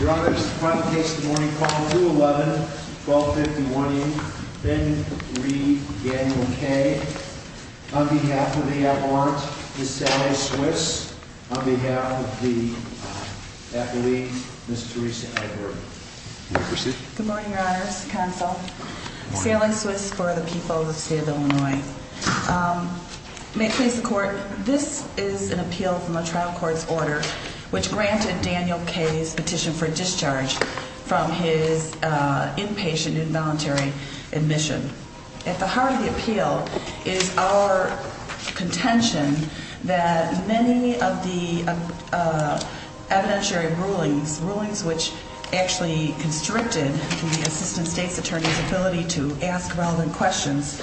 Your Honor, this is the final case of the morning, column 211, 12501E, Ben Reed, Daniel K. On behalf of the at-large, Ms. Sally Swiss. On behalf of the athlete, Ms. Teresa Edward. You may proceed. Good morning, Your Honor, Mr. Counsel. Good morning. Sally Swiss for the people of the state of Illinois. May it please the Court, this is an appeal from a trial court's order which granted Daniel K.'s petition for discharge from his inpatient involuntary admission. At the heart of the appeal is our contention that many of the evidentiary rulings, rulings which actually constricted the Assistant State's Attorney's ability to ask relevant questions,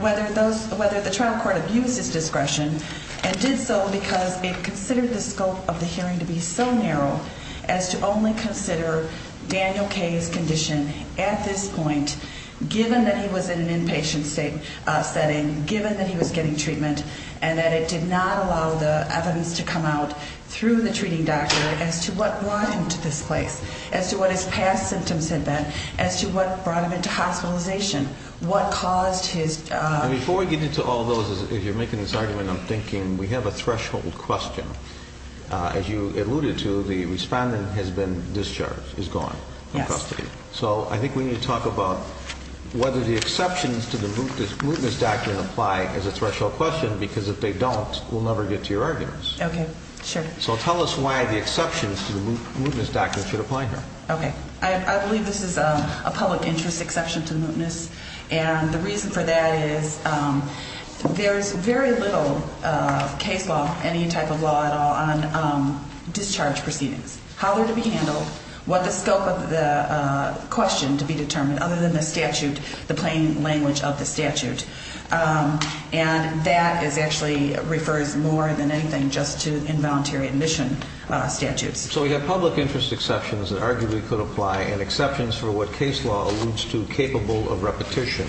whether the trial court abused his discretion and did so because it considered the scope of the hearing to be so narrow as to only consider Daniel K.'s condition at this point, given that he was in an inpatient setting, given that he was getting treatment, and that it did not allow the evidence to come out through the treating doctor as to what brought him to this place, as to what his past symptoms had been, as to what brought him into hospitalization, what caused his... And before we get into all those, if you're making this argument, I'm thinking we have a threshold question. As you alluded to, the respondent has been discharged, is gone from custody. Yes. So I think we need to talk about whether the exceptions to the mootness document apply as a threshold question because if they don't, we'll never get to your arguments. Okay. Sure. So tell us why the exceptions to the mootness document should apply here. Okay. I believe this is a public interest exception to the mootness. And the reason for that is there's very little case law, any type of law at all, on discharge proceedings. How they're to be handled, what the scope of the question to be determined, other than the statute, the plain language of the statute. And that actually refers more than anything just to involuntary admission statutes. So we have public interest exceptions that arguably could apply and exceptions for what case law alludes to capable of repetition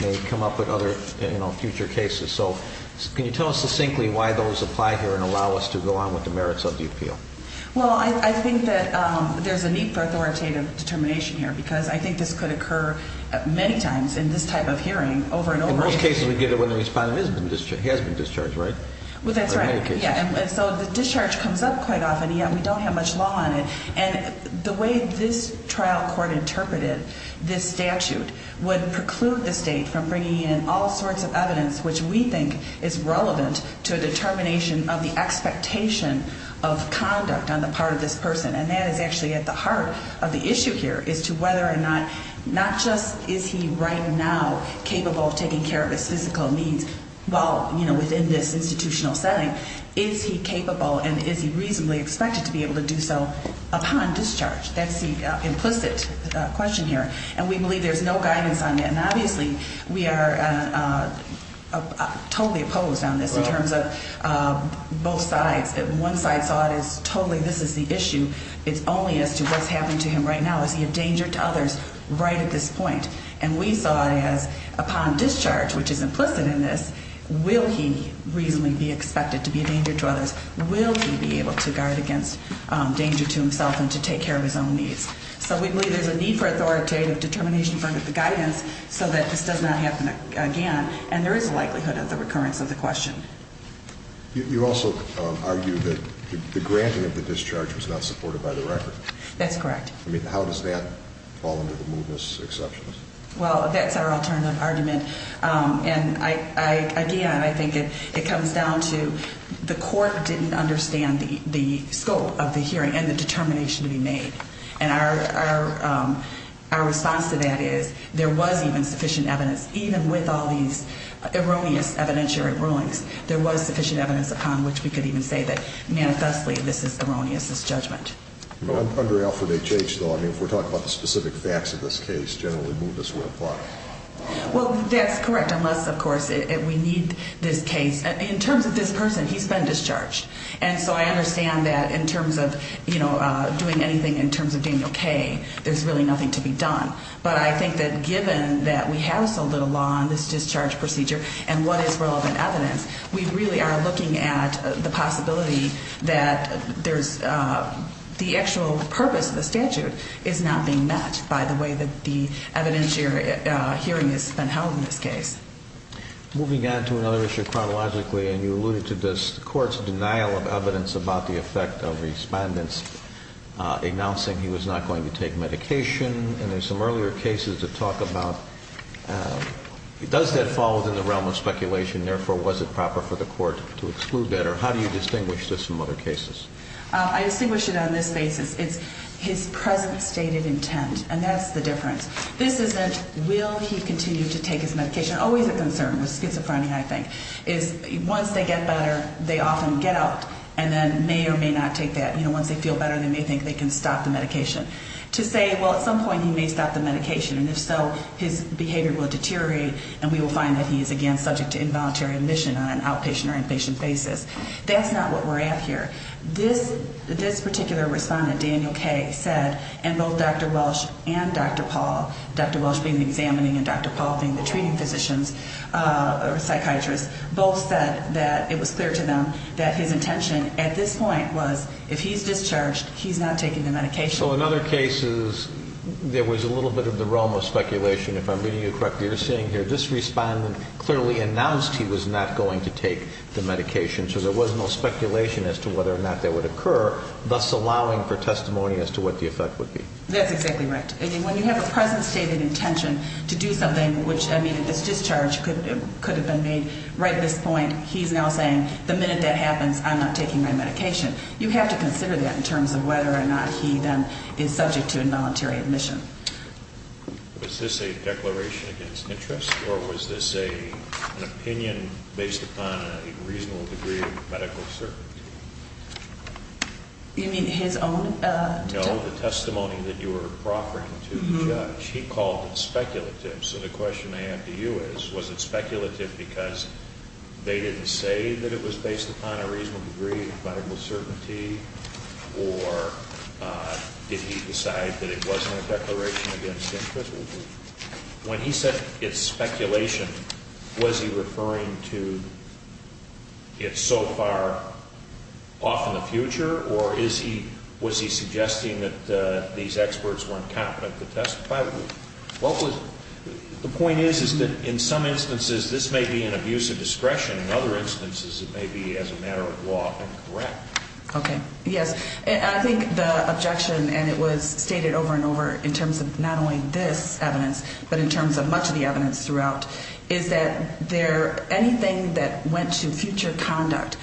may come up with other future cases. So can you tell us succinctly why those apply here and allow us to go on with the merits of the appeal? Well, I think that there's a need for authoritative determination here because I think this could occur many times in this type of hearing over and over again. In most cases, we get it when the respondent has been discharged, right? Well, that's right. In many cases. Yeah. And so the discharge comes up quite often, yet we don't have much law on it. And the way this trial court interpreted this statute would preclude the state from bringing in all sorts of evidence which we think is relevant to a determination of the expectation of conduct on the part of this person. And that is actually at the heart of the issue here is to whether or not, not just is he right now capable of taking care of his physical needs while, you know, within this institutional setting. But is he capable and is he reasonably expected to be able to do so upon discharge? That's the implicit question here. And we believe there's no guidance on that. And obviously we are totally opposed on this in terms of both sides. One side saw it as totally this is the issue. It's only as to what's happening to him right now. Is he a danger to others right at this point? And we saw it as upon discharge, which is implicit in this, will he reasonably be expected to be a danger to others? Will he be able to guard against danger to himself and to take care of his own needs? So we believe there's a need for authoritative determination from the guidance so that this does not happen again. And there is a likelihood of the recurrence of the question. You also argue that the granting of the discharge was not supported by the record. That's correct. I mean, how does that fall under the movement's exceptions? Well, that's our alternative argument. And, again, I think it comes down to the court didn't understand the scope of the hearing and the determination to be made. And our response to that is there was even sufficient evidence, even with all these erroneous evidentiary rulings, there was sufficient evidence upon which we could even say that manifestly this is erroneous, this judgment. Under Alpha HH, though, I mean, if we're talking about the specific facts of this case, generally movements would apply. Well, that's correct, unless, of course, we need this case. In terms of this person, he's been discharged. And so I understand that in terms of, you know, doing anything in terms of doing okay, there's really nothing to be done. But I think that given that we have so little law on this discharge procedure and what is relevant evidence, we really are looking at the possibility that there's the actual purpose of the statute is not being met by the way that the evidentiary hearing has been held in this case. Moving on to another issue chronologically, and you alluded to this, the court's denial of evidence about the effect of respondents announcing he was not going to take medication. And there's some earlier cases that talk about does that fall within the realm of speculation? Therefore, was it proper for the court to exclude that? Or how do you distinguish this from other cases? I distinguish it on this basis. It's his present stated intent, and that's the difference. This isn't will he continue to take his medication. Always a concern with schizophrenia, I think, is once they get better, they often get up and then may or may not take that. You know, once they feel better, they may think they can stop the medication. To say, well, at some point he may stop the medication, and if so, his behavior will deteriorate and we will find that he is again subject to involuntary admission on an outpatient or inpatient basis. That's not what we're at here. This particular respondent, Daniel Kaye, said, and both Dr. Welsh and Dr. Paul, Dr. Welsh being the examining and Dr. Paul being the treating physicians or psychiatrists, both said that it was clear to them that his intention at this point was if he's discharged, he's not taking the medication. So in other cases, there was a little bit of the realm of speculation. If I'm reading you correctly, you're saying here this respondent clearly announced he was not going to take the medication, so there was no speculation as to whether or not that would occur, thus allowing for testimony as to what the effect would be. That's exactly right. When you have a present stated intention to do something, which, I mean, this discharge could have been made right at this point. He's now saying the minute that happens, I'm not taking my medication. You have to consider that in terms of whether or not he then is subject to involuntary admission. Was this a declaration against interest, or was this an opinion based upon a reasonable degree of medical certainty? You mean his own testimony? No, the testimony that you were proffering to the judge. He called it speculative, so the question I have to you is, was it speculative because they didn't say that it was based upon a reasonable degree of medical certainty, or did he decide that it wasn't a declaration against interest? When he said it's speculation, was he referring to it's so far off in the future, or was he suggesting that these experts weren't competent to testify? The point is that in some instances this may be an abuse of discretion, in other instances it may be as a matter of law incorrect. Okay. Yes. I think the objection, and it was stated over and over in terms of not only this evidence, but in terms of much of the evidence throughout, is that anything that went to future conduct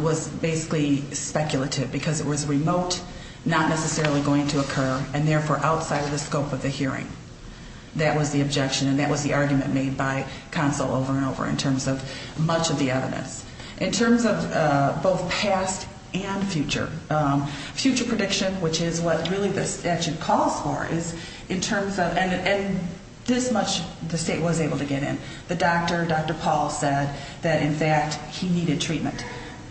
was basically speculative because it was remote, not necessarily going to occur, and therefore outside of the scope of the hearing. That was the objection, and that was the argument made by counsel over and over in terms of much of the evidence. In terms of both past and future, future prediction, which is what really the statute calls for, is in terms of, and this much the state was able to get in. The doctor, Dr. Paul, said that in fact he needed treatment.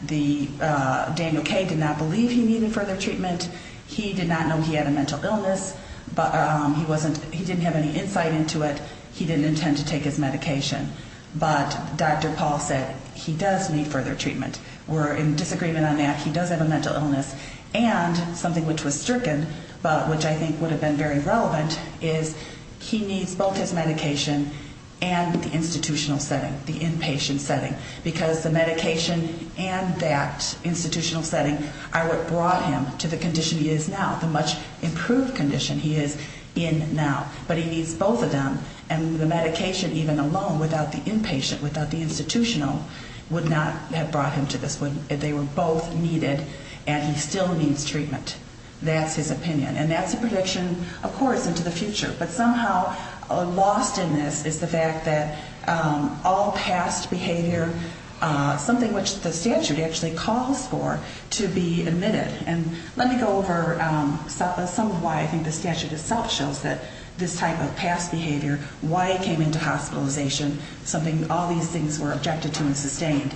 Daniel K. did not believe he needed further treatment. He did not know he had a mental illness. He didn't have any insight into it. He didn't intend to take his medication. But Dr. Paul said he does need further treatment. We're in disagreement on that. He does have a mental illness. And something which was stricken, but which I think would have been very relevant, is he needs both his medication and the institutional setting, the inpatient setting, because the medication and that institutional setting are what brought him to the condition he is now, the much improved condition he is in now. But he needs both of them, and the medication even alone, without the inpatient, without the institutional, would not have brought him to this one. They were both needed, and he still needs treatment. That's his opinion. And that's a prediction, of course, into the future. But somehow lost in this is the fact that all past behavior, something which the statute actually calls for, to be admitted. And let me go over some of why I think the statute itself shows that this type of past behavior, why he came into hospitalization, something all these things were objected to and sustained,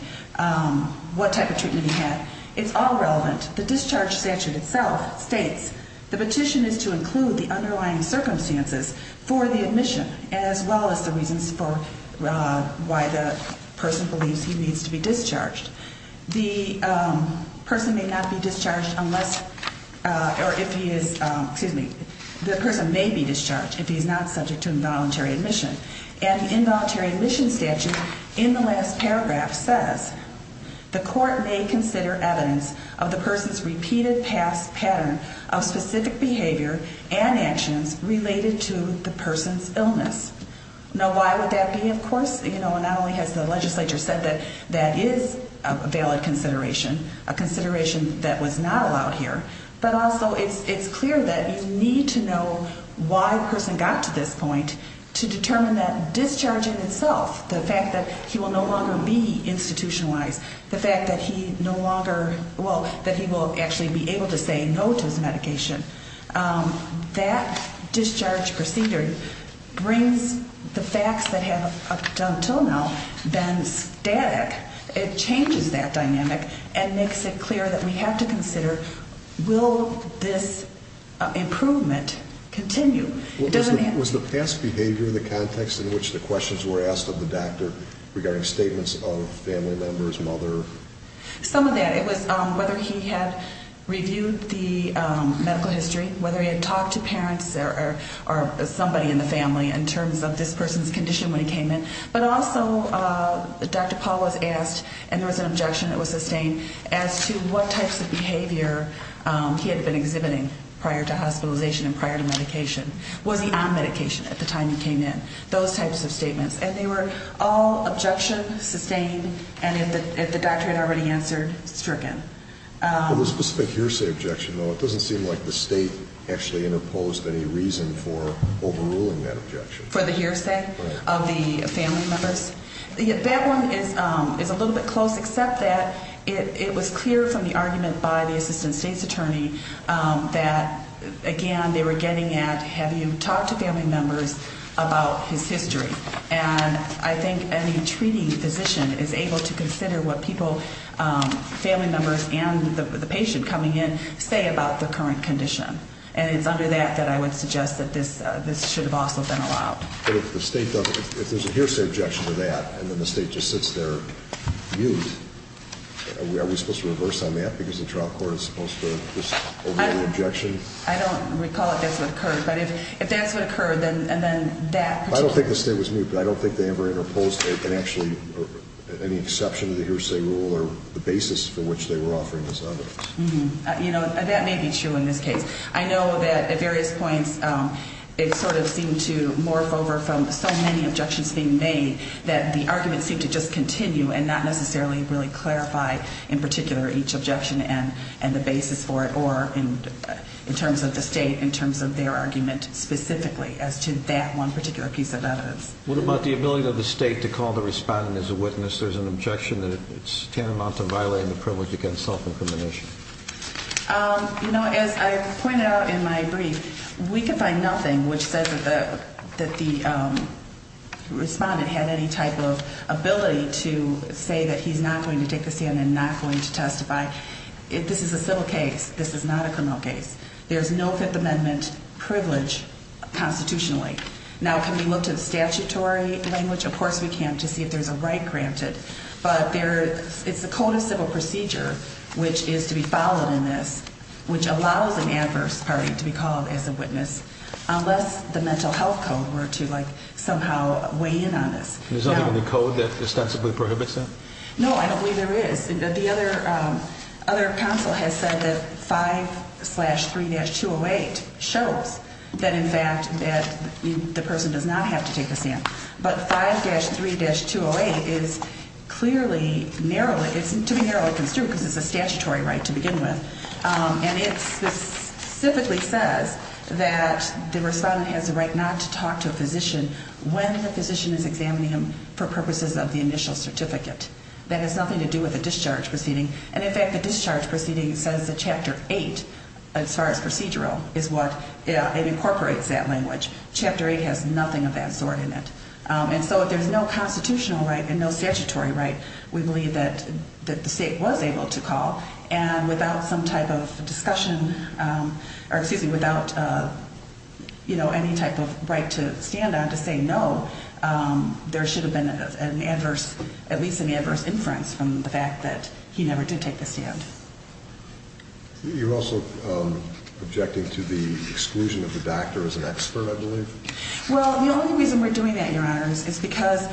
what type of treatment he had. It's all relevant. The discharge statute itself states the petition is to include the underlying circumstances for the admission, as well as the reasons for why the person believes he needs to be discharged. The person may not be discharged unless, or if he is, excuse me, the person may be discharged if he is not subject to involuntary admission. And the involuntary admission statute in the last paragraph says, the court may consider evidence of the person's repeated past pattern of specific behavior and actions related to the person's illness. Now, why would that be, of course? You know, not only has the legislature said that that is a valid consideration, a consideration that was not allowed here, but also it's clear that you need to know why the person got to this point to determine that discharging itself, the fact that he will no longer be institutionalized, the fact that he no longer, well, that he will actually be able to say no to his medication, that discharge procedure brings the facts that have up until now been static. It changes that dynamic and makes it clear that we have to consider, will this improvement continue? Was the past behavior in the context in which the questions were asked of the doctor regarding statements of family members, mother? Some of that. It was whether he had reviewed the medical history, whether he had talked to parents or somebody in the family in terms of this person's condition when he came in. But also Dr. Paul was asked, and there was an objection that was sustained, as to what types of behavior he had been exhibiting prior to hospitalization and prior to medication. Was he on medication at the time he came in? Those types of statements. And they were all objection sustained, and if the doctor had already answered, stricken. The specific hearsay objection, though, it doesn't seem like the state actually interposed any reason for overruling that objection. For the hearsay of the family members? That one is a little bit close, except that it was clear from the argument by the assistant state's attorney that, again, they were getting at, have you talked to family members about his history? And I think any treating physician is able to consider what people, family members and the patient coming in, say about the current condition. And it's under that that I would suggest that this should have also been allowed. But if the state doesn't, if there's a hearsay objection to that, and then the state just sits there mute, are we supposed to reverse on that because the trial court is supposed to just overrule the objection? I don't recall if that's what occurred. But if that's what occurred, then that particular. I don't think the state was mute, but I don't think they ever interposed it, and actually any exception to the hearsay rule or the basis for which they were offering this evidence. You know, that may be true in this case. I know that at various points it sort of seemed to morph over from so many objections being made that the argument seemed to just continue and not necessarily really clarify, in particular, each objection and the basis for it, or in terms of the state, in terms of their argument specifically, as to that one particular piece of evidence. What about the ability of the state to call the respondent as a witness? There's an objection that it's tantamount to violating the privilege against self-incrimination. You know, as I pointed out in my brief, we can find nothing which says that the respondent had any type of ability to say that he's not going to take the stand and not going to testify. This is a civil case. This is not a criminal case. There's no Fifth Amendment privilege constitutionally. Now, can we look to the statutory language? Of course we can to see if there's a right granted. But it's the code of civil procedure which is to be followed in this, which allows an adverse party to be called as a witness unless the mental health code were to, like, somehow weigh in on this. There's nothing in the code that ostensibly prohibits that? No, I don't believe there is. The other counsel has said that 5-3-208 shows that, in fact, that the person does not have to take the stand. But 5-3-208 is clearly narrowly, it's to be narrowly construed because it's a statutory right to begin with. And it specifically says that the respondent has the right not to talk to a physician when the physician is examining him for purposes of the initial certificate. That has nothing to do with the discharge proceeding. And, in fact, the discharge proceeding says that Chapter 8, as far as procedural, is what incorporates that language. Chapter 8 has nothing of that sort in it. And so if there's no constitutional right and no statutory right, we believe that the state was able to call. And without some type of discussion, or excuse me, without, you know, any type of right to stand on to say no, there should have been an adverse, at least an adverse inference from the fact that he never did take the stand. You're also objecting to the exclusion of the doctor as an expert, I believe? Well, the only reason we're doing that, Your Honor, is because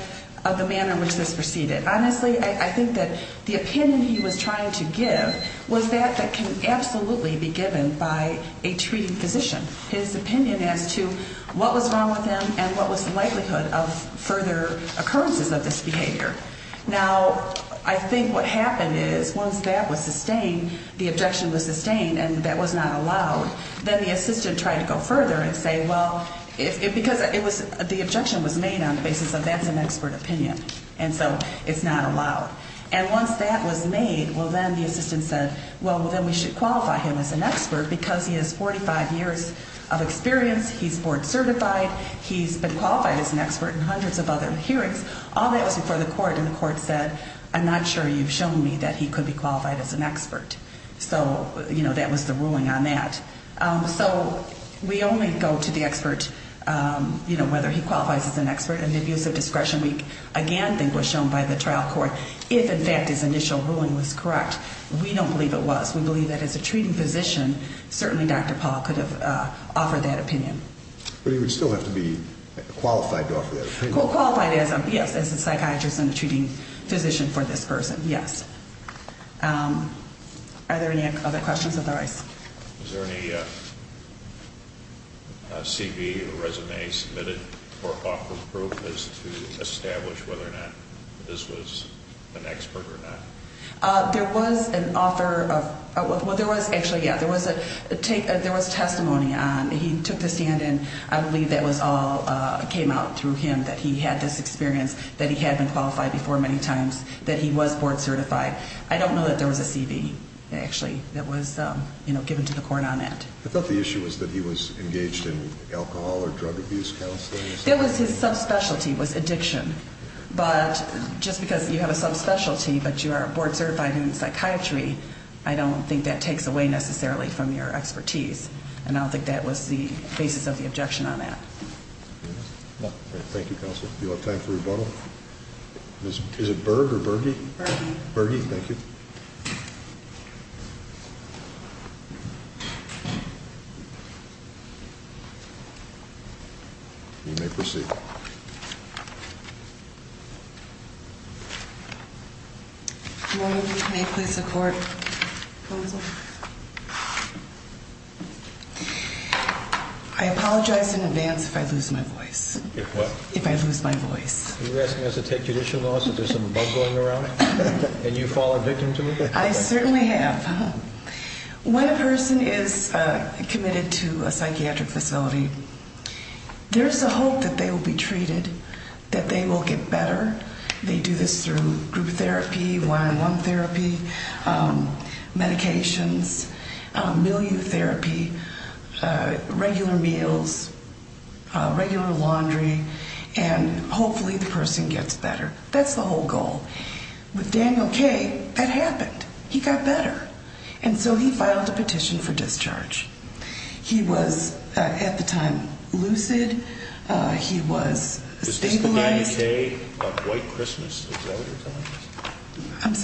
of the manner in which this proceeded. Honestly, I think that the opinion he was trying to give was that that can absolutely be given by a treating physician. His opinion as to what was wrong with him and what was the likelihood of further occurrences of this behavior. Now, I think what happened is once that was sustained, the objection was sustained and that was not allowed, then the assistant tried to go further and say, well, because the objection was made on the basis of that's an expert opinion. And so it's not allowed. And once that was made, well, then the assistant said, well, then we should qualify him as an expert because he has 45 years of experience. He's board certified. He's been qualified as an expert in hundreds of other hearings. All that was before the court, and the court said, I'm not sure you've shown me that he could be qualified as an expert. So, you know, that was the ruling on that. So we only go to the expert, you know, whether he qualifies as an expert. And the abuse of discretion we, again, think was shown by the trial court if, in fact, his initial ruling was correct. We don't believe it was. We believe that as a treating physician, certainly Dr. Paul could have offered that opinion. But he would still have to be qualified to offer that opinion. Qualified as a, yes, as a psychiatrist and a treating physician for this person. Yes. Are there any other questions of the rise? Is there any CV or resume submitted for offer proof as to establish whether or not this was an expert or not? There was an offer of, well, there was actually, yeah, there was a testimony. He took the stand, and I believe that was all came out through him, that he had this experience, that he had been qualified before many times, that he was board certified. I don't know that there was a CV, actually, that was, you know, given to the court on that. I thought the issue was that he was engaged in alcohol or drug abuse counseling. That was his subspecialty was addiction. But just because you have a subspecialty but you are board certified in psychiatry, I don't think that takes away necessarily from your expertise. And I don't think that was the basis of the objection on that. Thank you, counsel. Do you have time for rebuttal? Is it Byrd or Berge? Berge. Berge, thank you. You may proceed. I apologize in advance if I lose my voice. If what? If I lose my voice. Are you asking us to take judicial laws if there's some bug going around? And you fall a victim to it? I certainly have. When a person is committed to a psychiatric facility, there's a hope that they will be treated, that they will get better. They do this through group therapy, one-on-one therapy, medications, milieu therapy, regular meals, regular laundry, and hopefully the person gets better. That's the whole goal. With Daniel Kaye, that happened. He got better. And so he filed a petition for discharge. He was, at the time, lucid. He was stabilized. Is this the Danny Kaye of white Christmas? Is that what you're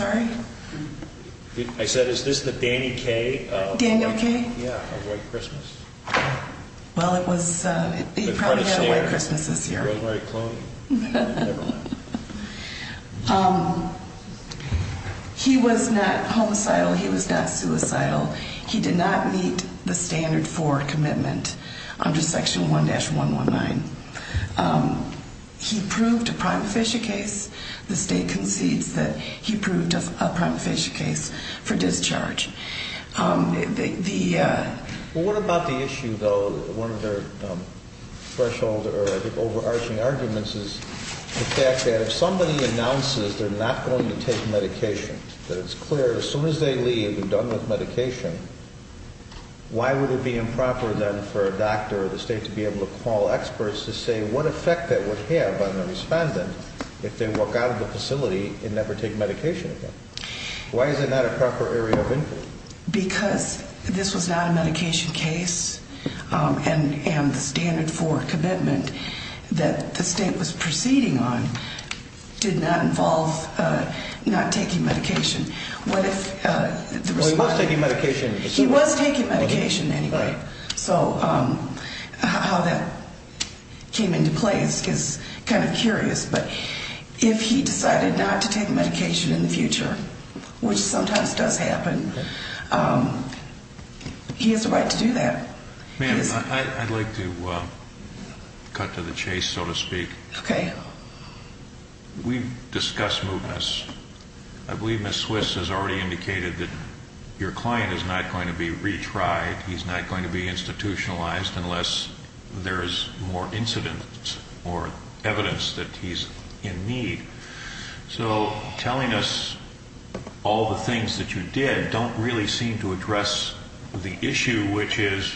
telling us? I'm sorry? I said, is this the Danny Kaye of white Christmas? Daniel Kaye? Yeah, of white Christmas. Well, he probably had a white Christmas this year. Never mind. He was not homicidal. He was not suicidal. He did not meet the standard for commitment under Section 1-119. He proved a prima facie case. The state concedes that he proved a prima facie case for discharge. Well, what about the issue, though, one of their threshold or, I think, overarching arguments, is the fact that if somebody announces they're not going to take medication, that it's clear as soon as they leave and done with medication, why would it be improper then for a doctor or the state to be able to call experts to say what effect that would have on the respondent if they walk out of the facility and never take medication again? Why is that not a proper area of input? Because this was not a medication case, and the standard for commitment that the state was proceeding on did not involve not taking medication. What if the respondent... Well, he was taking medication. He was taking medication anyway. So how that came into play is kind of curious. But if he decided not to take medication in the future, which sometimes does happen, he has a right to do that. Ma'am, I'd like to cut to the chase, so to speak. Okay. We've discussed movements. I believe Ms. Swiss has already indicated that your client is not going to be retried, he's not going to be institutionalized unless there is more incident or evidence that he's in need. So telling us all the things that you did don't really seem to address the issue, which is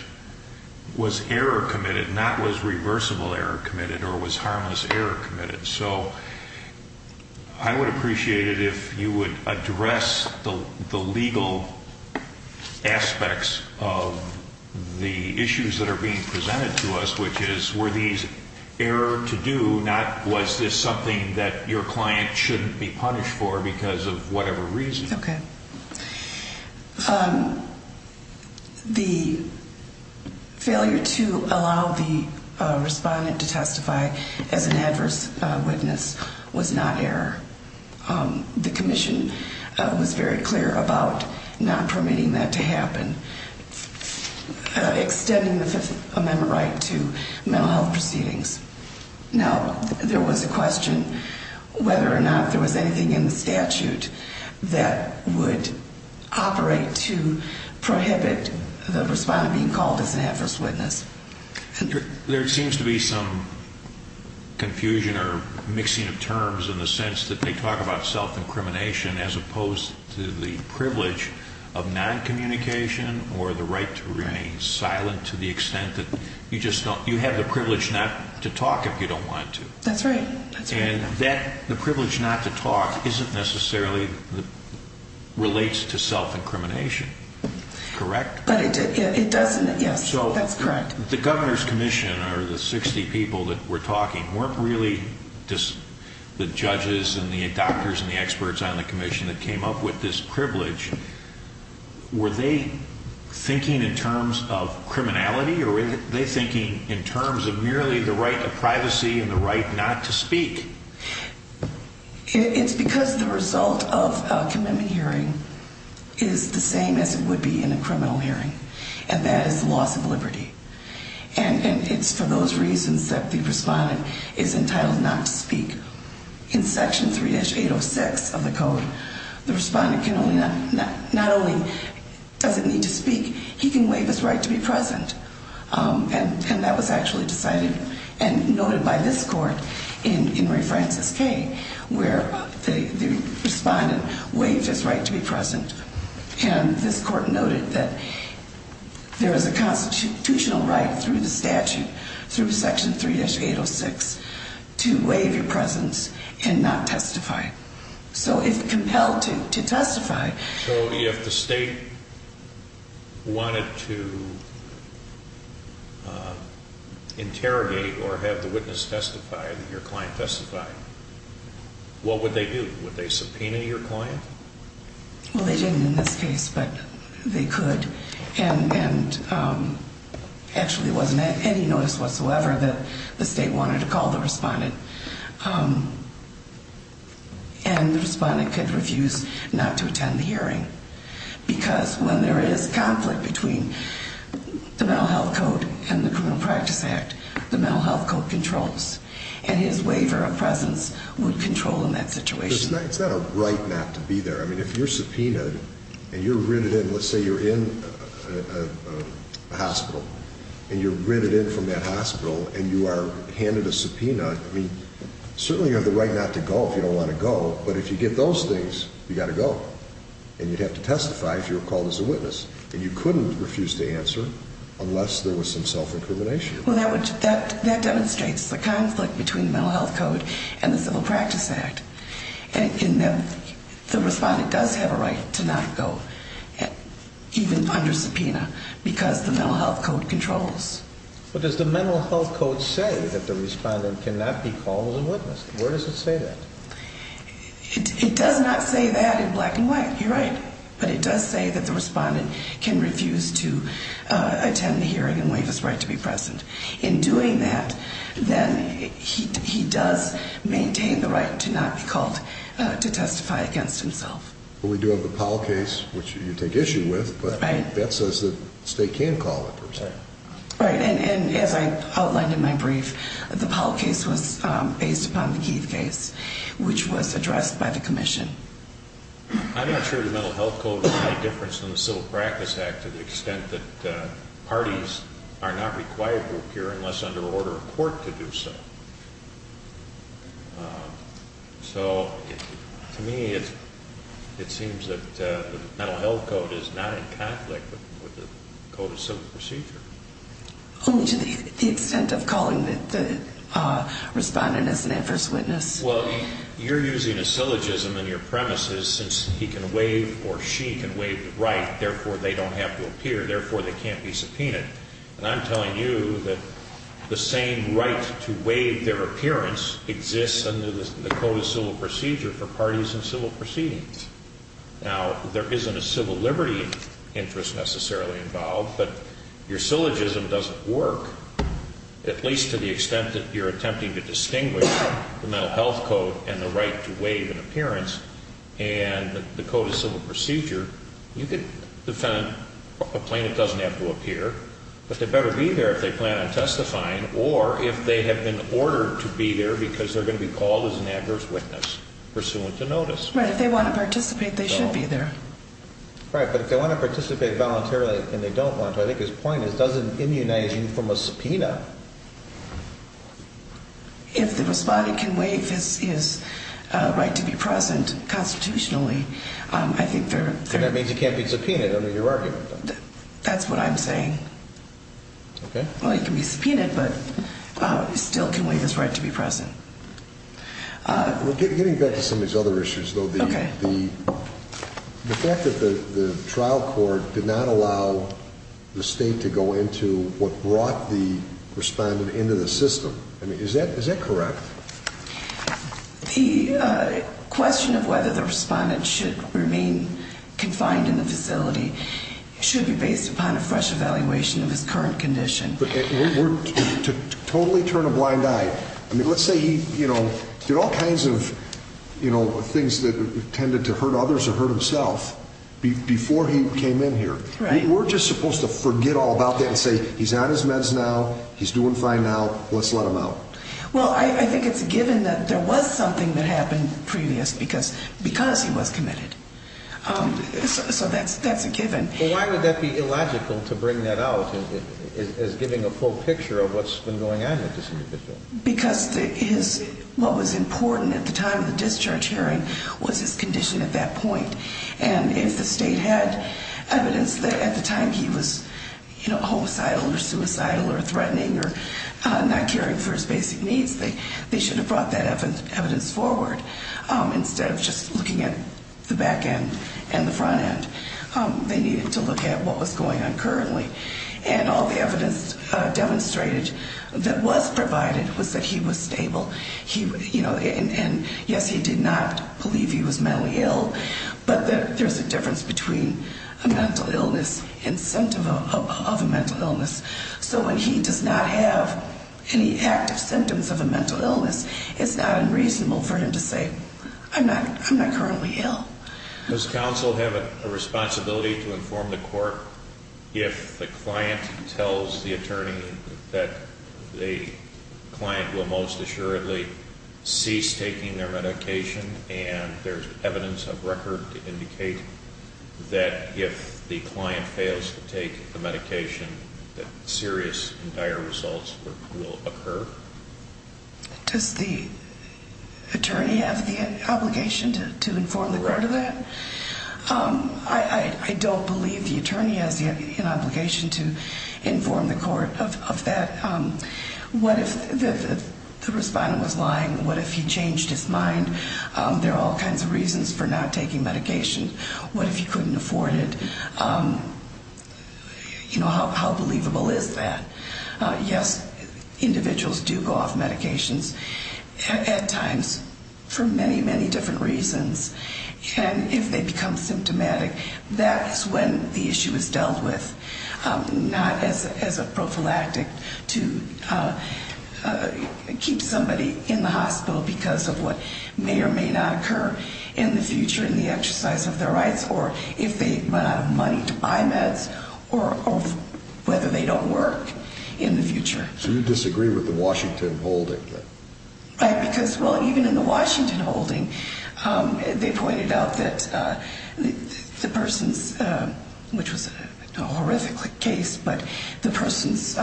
was error committed, not was reversible error committed or was harmless error committed. So I would appreciate it if you would address the legal aspects of the issues that are being presented to us, which is were these error to do, not was this something that your client shouldn't be punished for because of whatever reason. Okay. The failure to allow the respondent to testify as an adverse witness was not error. The commission was very clear about not permitting that to happen. Extending the Fifth Amendment right to mental health proceedings. Now, there was a question whether or not there was anything in the statute that would operate to prohibit the respondent being called as an adverse witness. There seems to be some confusion or mixing of terms in the sense that they talk about self-incrimination as opposed to the privilege of noncommunication or the right to remain silent to the extent that you just don't, you have the privilege not to talk if you don't want to. That's right. And the privilege not to talk isn't necessarily, relates to self-incrimination, correct? But it does, yes, that's correct. So the Governor's Commission or the 60 people that were talking weren't really just the judges and the doctors and the experts on the commission that came up with this privilege. Were they thinking in terms of criminality or were they thinking in terms of merely the right to privacy and the right not to speak? It's because the result of a commitment hearing is the same as it would be in a criminal hearing, and that is the loss of liberty. And it's for those reasons that the respondent is entitled not to speak. In Section 3-806 of the code, the respondent not only doesn't need to speak, he can waive his right to be present. And that was actually decided and noted by this court in Ray Francis K. where the respondent waived his right to be present. And this court noted that there is a constitutional right through the statute, through Section 3-806, to waive your presence and not testify. So if compelled to testify. So if the state wanted to interrogate or have the witness testify or your client testify, what would they do? Would they subpoena your client? Well, they didn't in this case, but they could. And actually it wasn't any notice whatsoever that the state wanted to call the respondent. And the respondent could refuse not to attend the hearing because when there is conflict between the Mental Health Code and the Criminal Practice Act, the Mental Health Code controls. And his waiver of presence would control in that situation. It's not a right not to be there. I mean, if you're subpoenaed and you're rented in, let's say you're in a hospital, and you're rented in from that hospital and you are handed a subpoena, I mean, certainly you have the right not to go if you don't want to go. But if you get those things, you've got to go. And you'd have to testify if you were called as a witness. And you couldn't refuse to answer unless there was some self-incrimination. Well, that demonstrates the conflict between the Mental Health Code and the Civil Practice Act. And the respondent does have a right to not go, even under subpoena, because the Mental Health Code controls. But does the Mental Health Code say that the respondent cannot be called as a witness? Where does it say that? It does not say that in black and white. You're right. But it does say that the respondent can refuse to attend the hearing and waive his right to be present. In doing that, then he does maintain the right to not be called to testify against himself. Well, we do have the Powell case, which you take issue with. Right. But that says that the state can call a person. Right. And as I outlined in my brief, the Powell case was based upon the Keith case, which was addressed by the commission. I'm not sure the Mental Health Code is any different than the Civil Practice Act to the extent that parties are not required to appear unless under order of court to do so. So, to me, it seems that the Mental Health Code is not in conflict with the Code of Civil Procedure. Only to the extent of calling the respondent as an adverse witness. Well, you're using a syllogism in your premises, since he can waive or she can waive the right, therefore they don't have to appear, therefore they can't be subpoenaed. And I'm telling you that the same right to waive their appearance exists under the Code of Civil Procedure for parties in civil proceedings. Now, there isn't a civil liberty interest necessarily involved, but your syllogism doesn't work. At least to the extent that you're attempting to distinguish the Mental Health Code and the right to waive an appearance and the Code of Civil Procedure, you can defend a plaintiff doesn't have to appear, but they better be there if they plan on testifying or if they have been ordered to be there because they're going to be called as an adverse witness, pursuant to notice. Right. If they want to participate, they should be there. Right, but if they want to participate voluntarily and they don't want to, I think his point is does it immunize you from a subpoena? If the respondent can waive his right to be present constitutionally, I think they're... And that means he can't be subpoenaed under your argument. That's what I'm saying. Okay. Well, he can be subpoenaed, but he still can waive his right to be present. Getting back to some of these other issues, though. Okay. The fact that the trial court did not allow the state to go into what brought the respondent into the system, I mean, is that correct? The question of whether the respondent should remain confined in the facility should be based upon a fresh evaluation of his current condition. We're totally turning a blind eye. I mean, let's say he did all kinds of things that tended to hurt others or hurt himself before he came in here. Right. We're just supposed to forget all about that and say he's on his meds now, he's doing fine now, let's let him out. Well, I think it's a given that there was something that happened previously because he was committed. So that's a given. Well, why would that be illogical to bring that out as giving a full picture of what's been going on with this individual? Because what was important at the time of the discharge hearing was his condition at that point. And if the state had evidence that at the time he was homicidal or suicidal or threatening or not caring for his basic needs, they should have brought that evidence forward instead of just looking at the back end and the front end. They needed to look at what was going on currently. And all the evidence demonstrated that was provided was that he was stable. And, yes, he did not believe he was mentally ill, but there's a difference between a mental illness and symptom of a mental illness. So when he does not have any active symptoms of a mental illness, it's not unreasonable for him to say, I'm not currently ill. Does counsel have a responsibility to inform the court if the client tells the attorney that the client will most assuredly cease taking their medication and there's evidence of record to indicate that if the client fails to take the medication that serious and dire results will occur? Does the attorney have the obligation to inform the court of that? I don't believe the attorney has an obligation to inform the court of that. What if the respondent was lying? What if he changed his mind? There are all kinds of reasons for not taking medication. What if he couldn't afford it? You know, how believable is that? Yes, individuals do go off medications at times for many, many different reasons. And if they become symptomatic, that is when the issue is dealt with, not as a prophylactic to keep somebody in the hospital because of what may or may not occur in the future in the exercise of their rights or if they run out of money to buy meds or whether they don't work in the future. So you disagree with the Washington holding? Right, because, well, even in the Washington holding, they pointed out that the person's, which was a horrific case, but the person's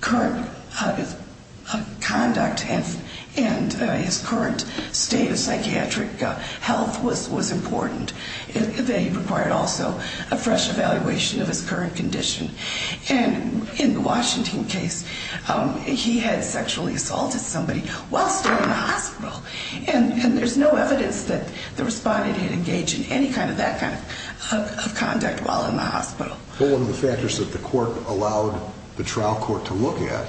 current conduct and his current state of psychiatric health was important. They required also a fresh evaluation of his current condition. And in the Washington case, he had sexually assaulted somebody while still in the hospital. And there's no evidence that the respondent had engaged in any kind of that kind of conduct while in the hospital. Well, one of the factors that the court allowed the trial court to look at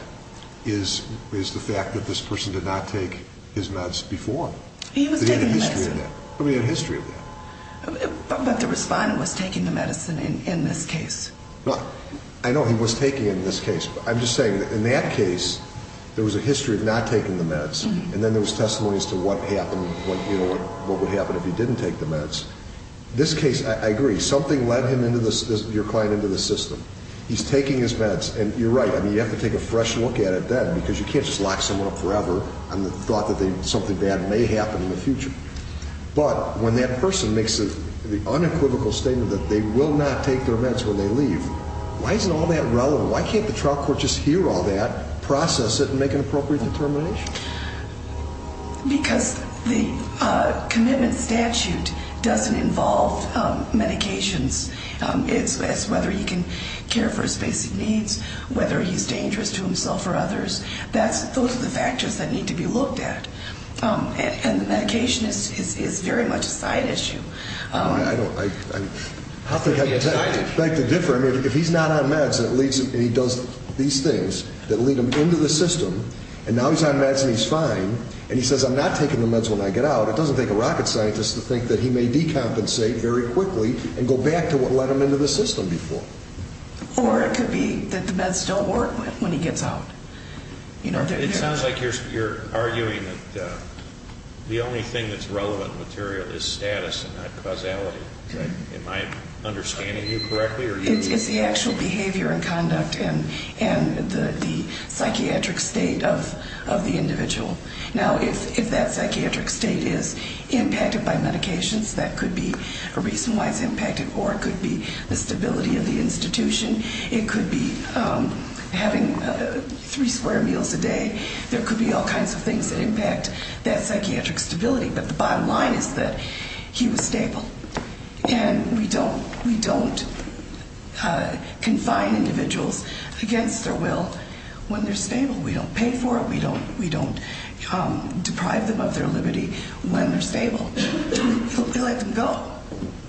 is the fact that this person did not take his meds before. He was taking medicine. He had a history of that. But the respondent was taking the medicine in this case. I know he was taking it in this case. I'm just saying that in that case, there was a history of not taking the meds, and then there was testimony as to what would happen if he didn't take the meds. This case, I agree, something led your client into the system. He's taking his meds, and you're right, you have to take a fresh look at it then because you can't just lock someone up forever on the thought that something bad may happen in the future. But when that person makes the unequivocal statement that they will not take their meds when they leave, why is it all that relevant? Why can't the trial court just hear all that, process it, and make an appropriate determination? Because the commitment statute doesn't involve medications. It's whether he can care for his basic needs, whether he's dangerous to himself or others. Those are the factors that need to be looked at. And the medication is very much a side issue. I think I'd like to differ. I mean, if he's not on meds and he does these things that lead him into the system, and now he's on meds and he's fine, and he says, I'm not taking the meds when I get out, it doesn't take a rocket scientist to think that he may decompensate very quickly and go back to what led him into the system before. Or it could be that the meds don't work when he gets out. It sounds like you're arguing that the only thing that's relevant material is status and not causality. Am I understanding you correctly? It's the actual behavior and conduct and the psychiatric state of the individual. Now, if that psychiatric state is impacted by medications, that could be a reason why it's impacted, or it could be the stability of the institution. It could be having three square meals a day. There could be all kinds of things that impact that psychiatric stability. But the bottom line is that he was stable. And we don't confine individuals against their will when they're stable. We don't pay for it. We don't deprive them of their liberty when they're stable. We let them go.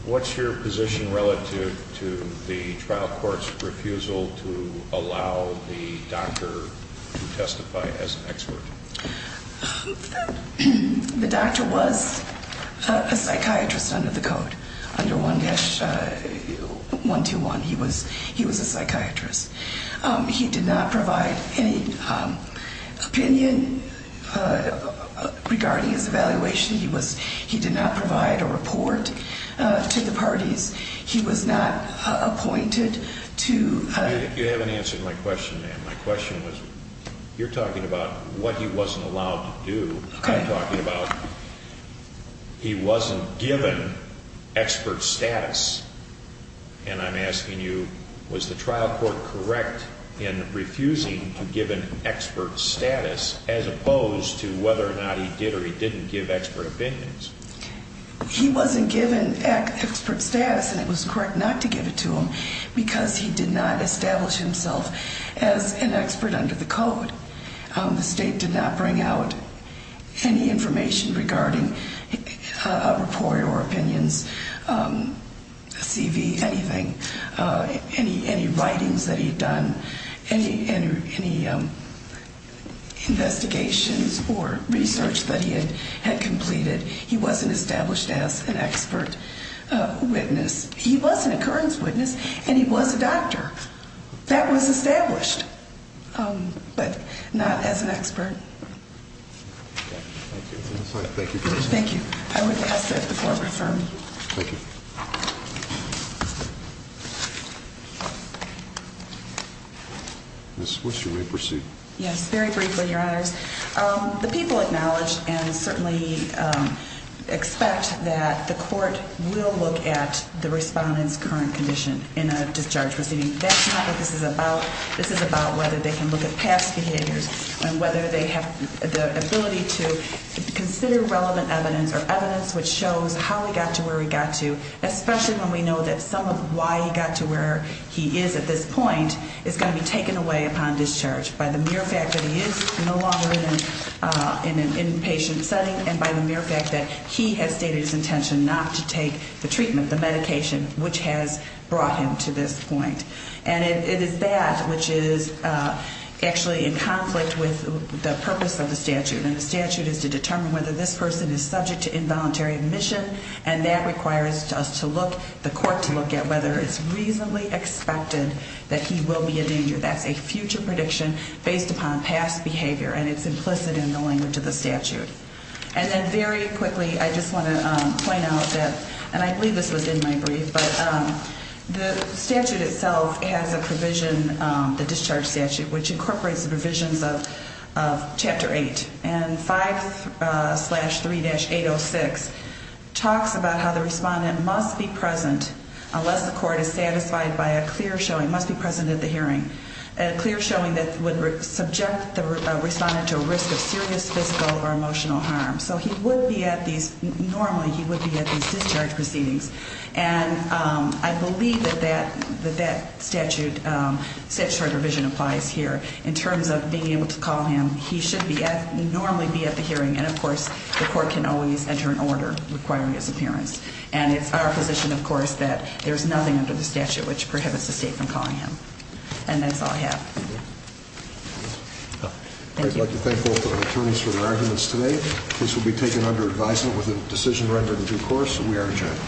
What's your position relative to the trial court's refusal to allow the doctor to testify as an expert? The doctor was a psychiatrist under the code, under 1-121. He was a psychiatrist. He did not provide any opinion regarding his evaluation. He did not provide a report to the parties. He was not appointed to a- You haven't answered my question, ma'am. My question was, you're talking about what he wasn't allowed to do. I'm talking about he wasn't given expert status. And I'm asking you, was the trial court correct in refusing to give an expert status, as opposed to whether or not he did or he didn't give expert opinions? He wasn't given expert status, and it was correct not to give it to him because he did not establish himself as an expert under the code. The state did not bring out any information regarding a report or opinions, a CV, anything, any writings that he had done, any investigations or research that he had completed. He wasn't established as an expert witness. He was an occurrence witness, and he was a doctor. That was established, but not as an expert. Okay. Thank you. Thank you very much. Thank you. I would ask that the floor be affirmed. Thank you. Ms. Swisher, may we proceed? Yes. Very briefly, Your Honors. The people acknowledge and certainly expect that the court will look at the respondent's current condition in a discharge proceeding. That's not what this is about. This is about whether they can look at past behaviors and whether they have the ability to consider relevant evidence or evidence which shows how he got to where he got to, especially when we know that some of why he got to where he is at this point is going to be taken away upon discharge by the mere fact that he is no longer in an inpatient setting and by the mere fact that he has stated his intention not to take the treatment, the medication, which has brought him to this point. And it is that which is actually in conflict with the purpose of the statute, and the statute is to determine whether this person is subject to involuntary admission, and that requires us to look, the court to look at whether it's reasonably expected that he will be a danger. That's a future prediction based upon past behavior, and it's implicit in the language of the statute. And then very quickly, I just want to point out that, and I believe this was in my brief, but the statute itself has a provision, the discharge statute, which incorporates the provisions of Chapter 8, and 5-3-806 talks about how the respondent must be present unless the court is satisfied by a clear showing, must be present at the hearing, a clear showing that would subject the respondent to a risk of serious physical or emotional harm. So he would be at these, normally he would be at these discharge proceedings, and I believe that that statute, statutory provision applies here. In terms of being able to call him, he should normally be at the hearing, and, of course, the court can always enter an order requiring his appearance. And it's our position, of course, that there's nothing under the statute which prohibits the state from calling him. And that's all I have. Thank you. I'd like to thank both of our attorneys for their arguments today. The case will be taken under advisement with a decision record in due course, and we are adjourned.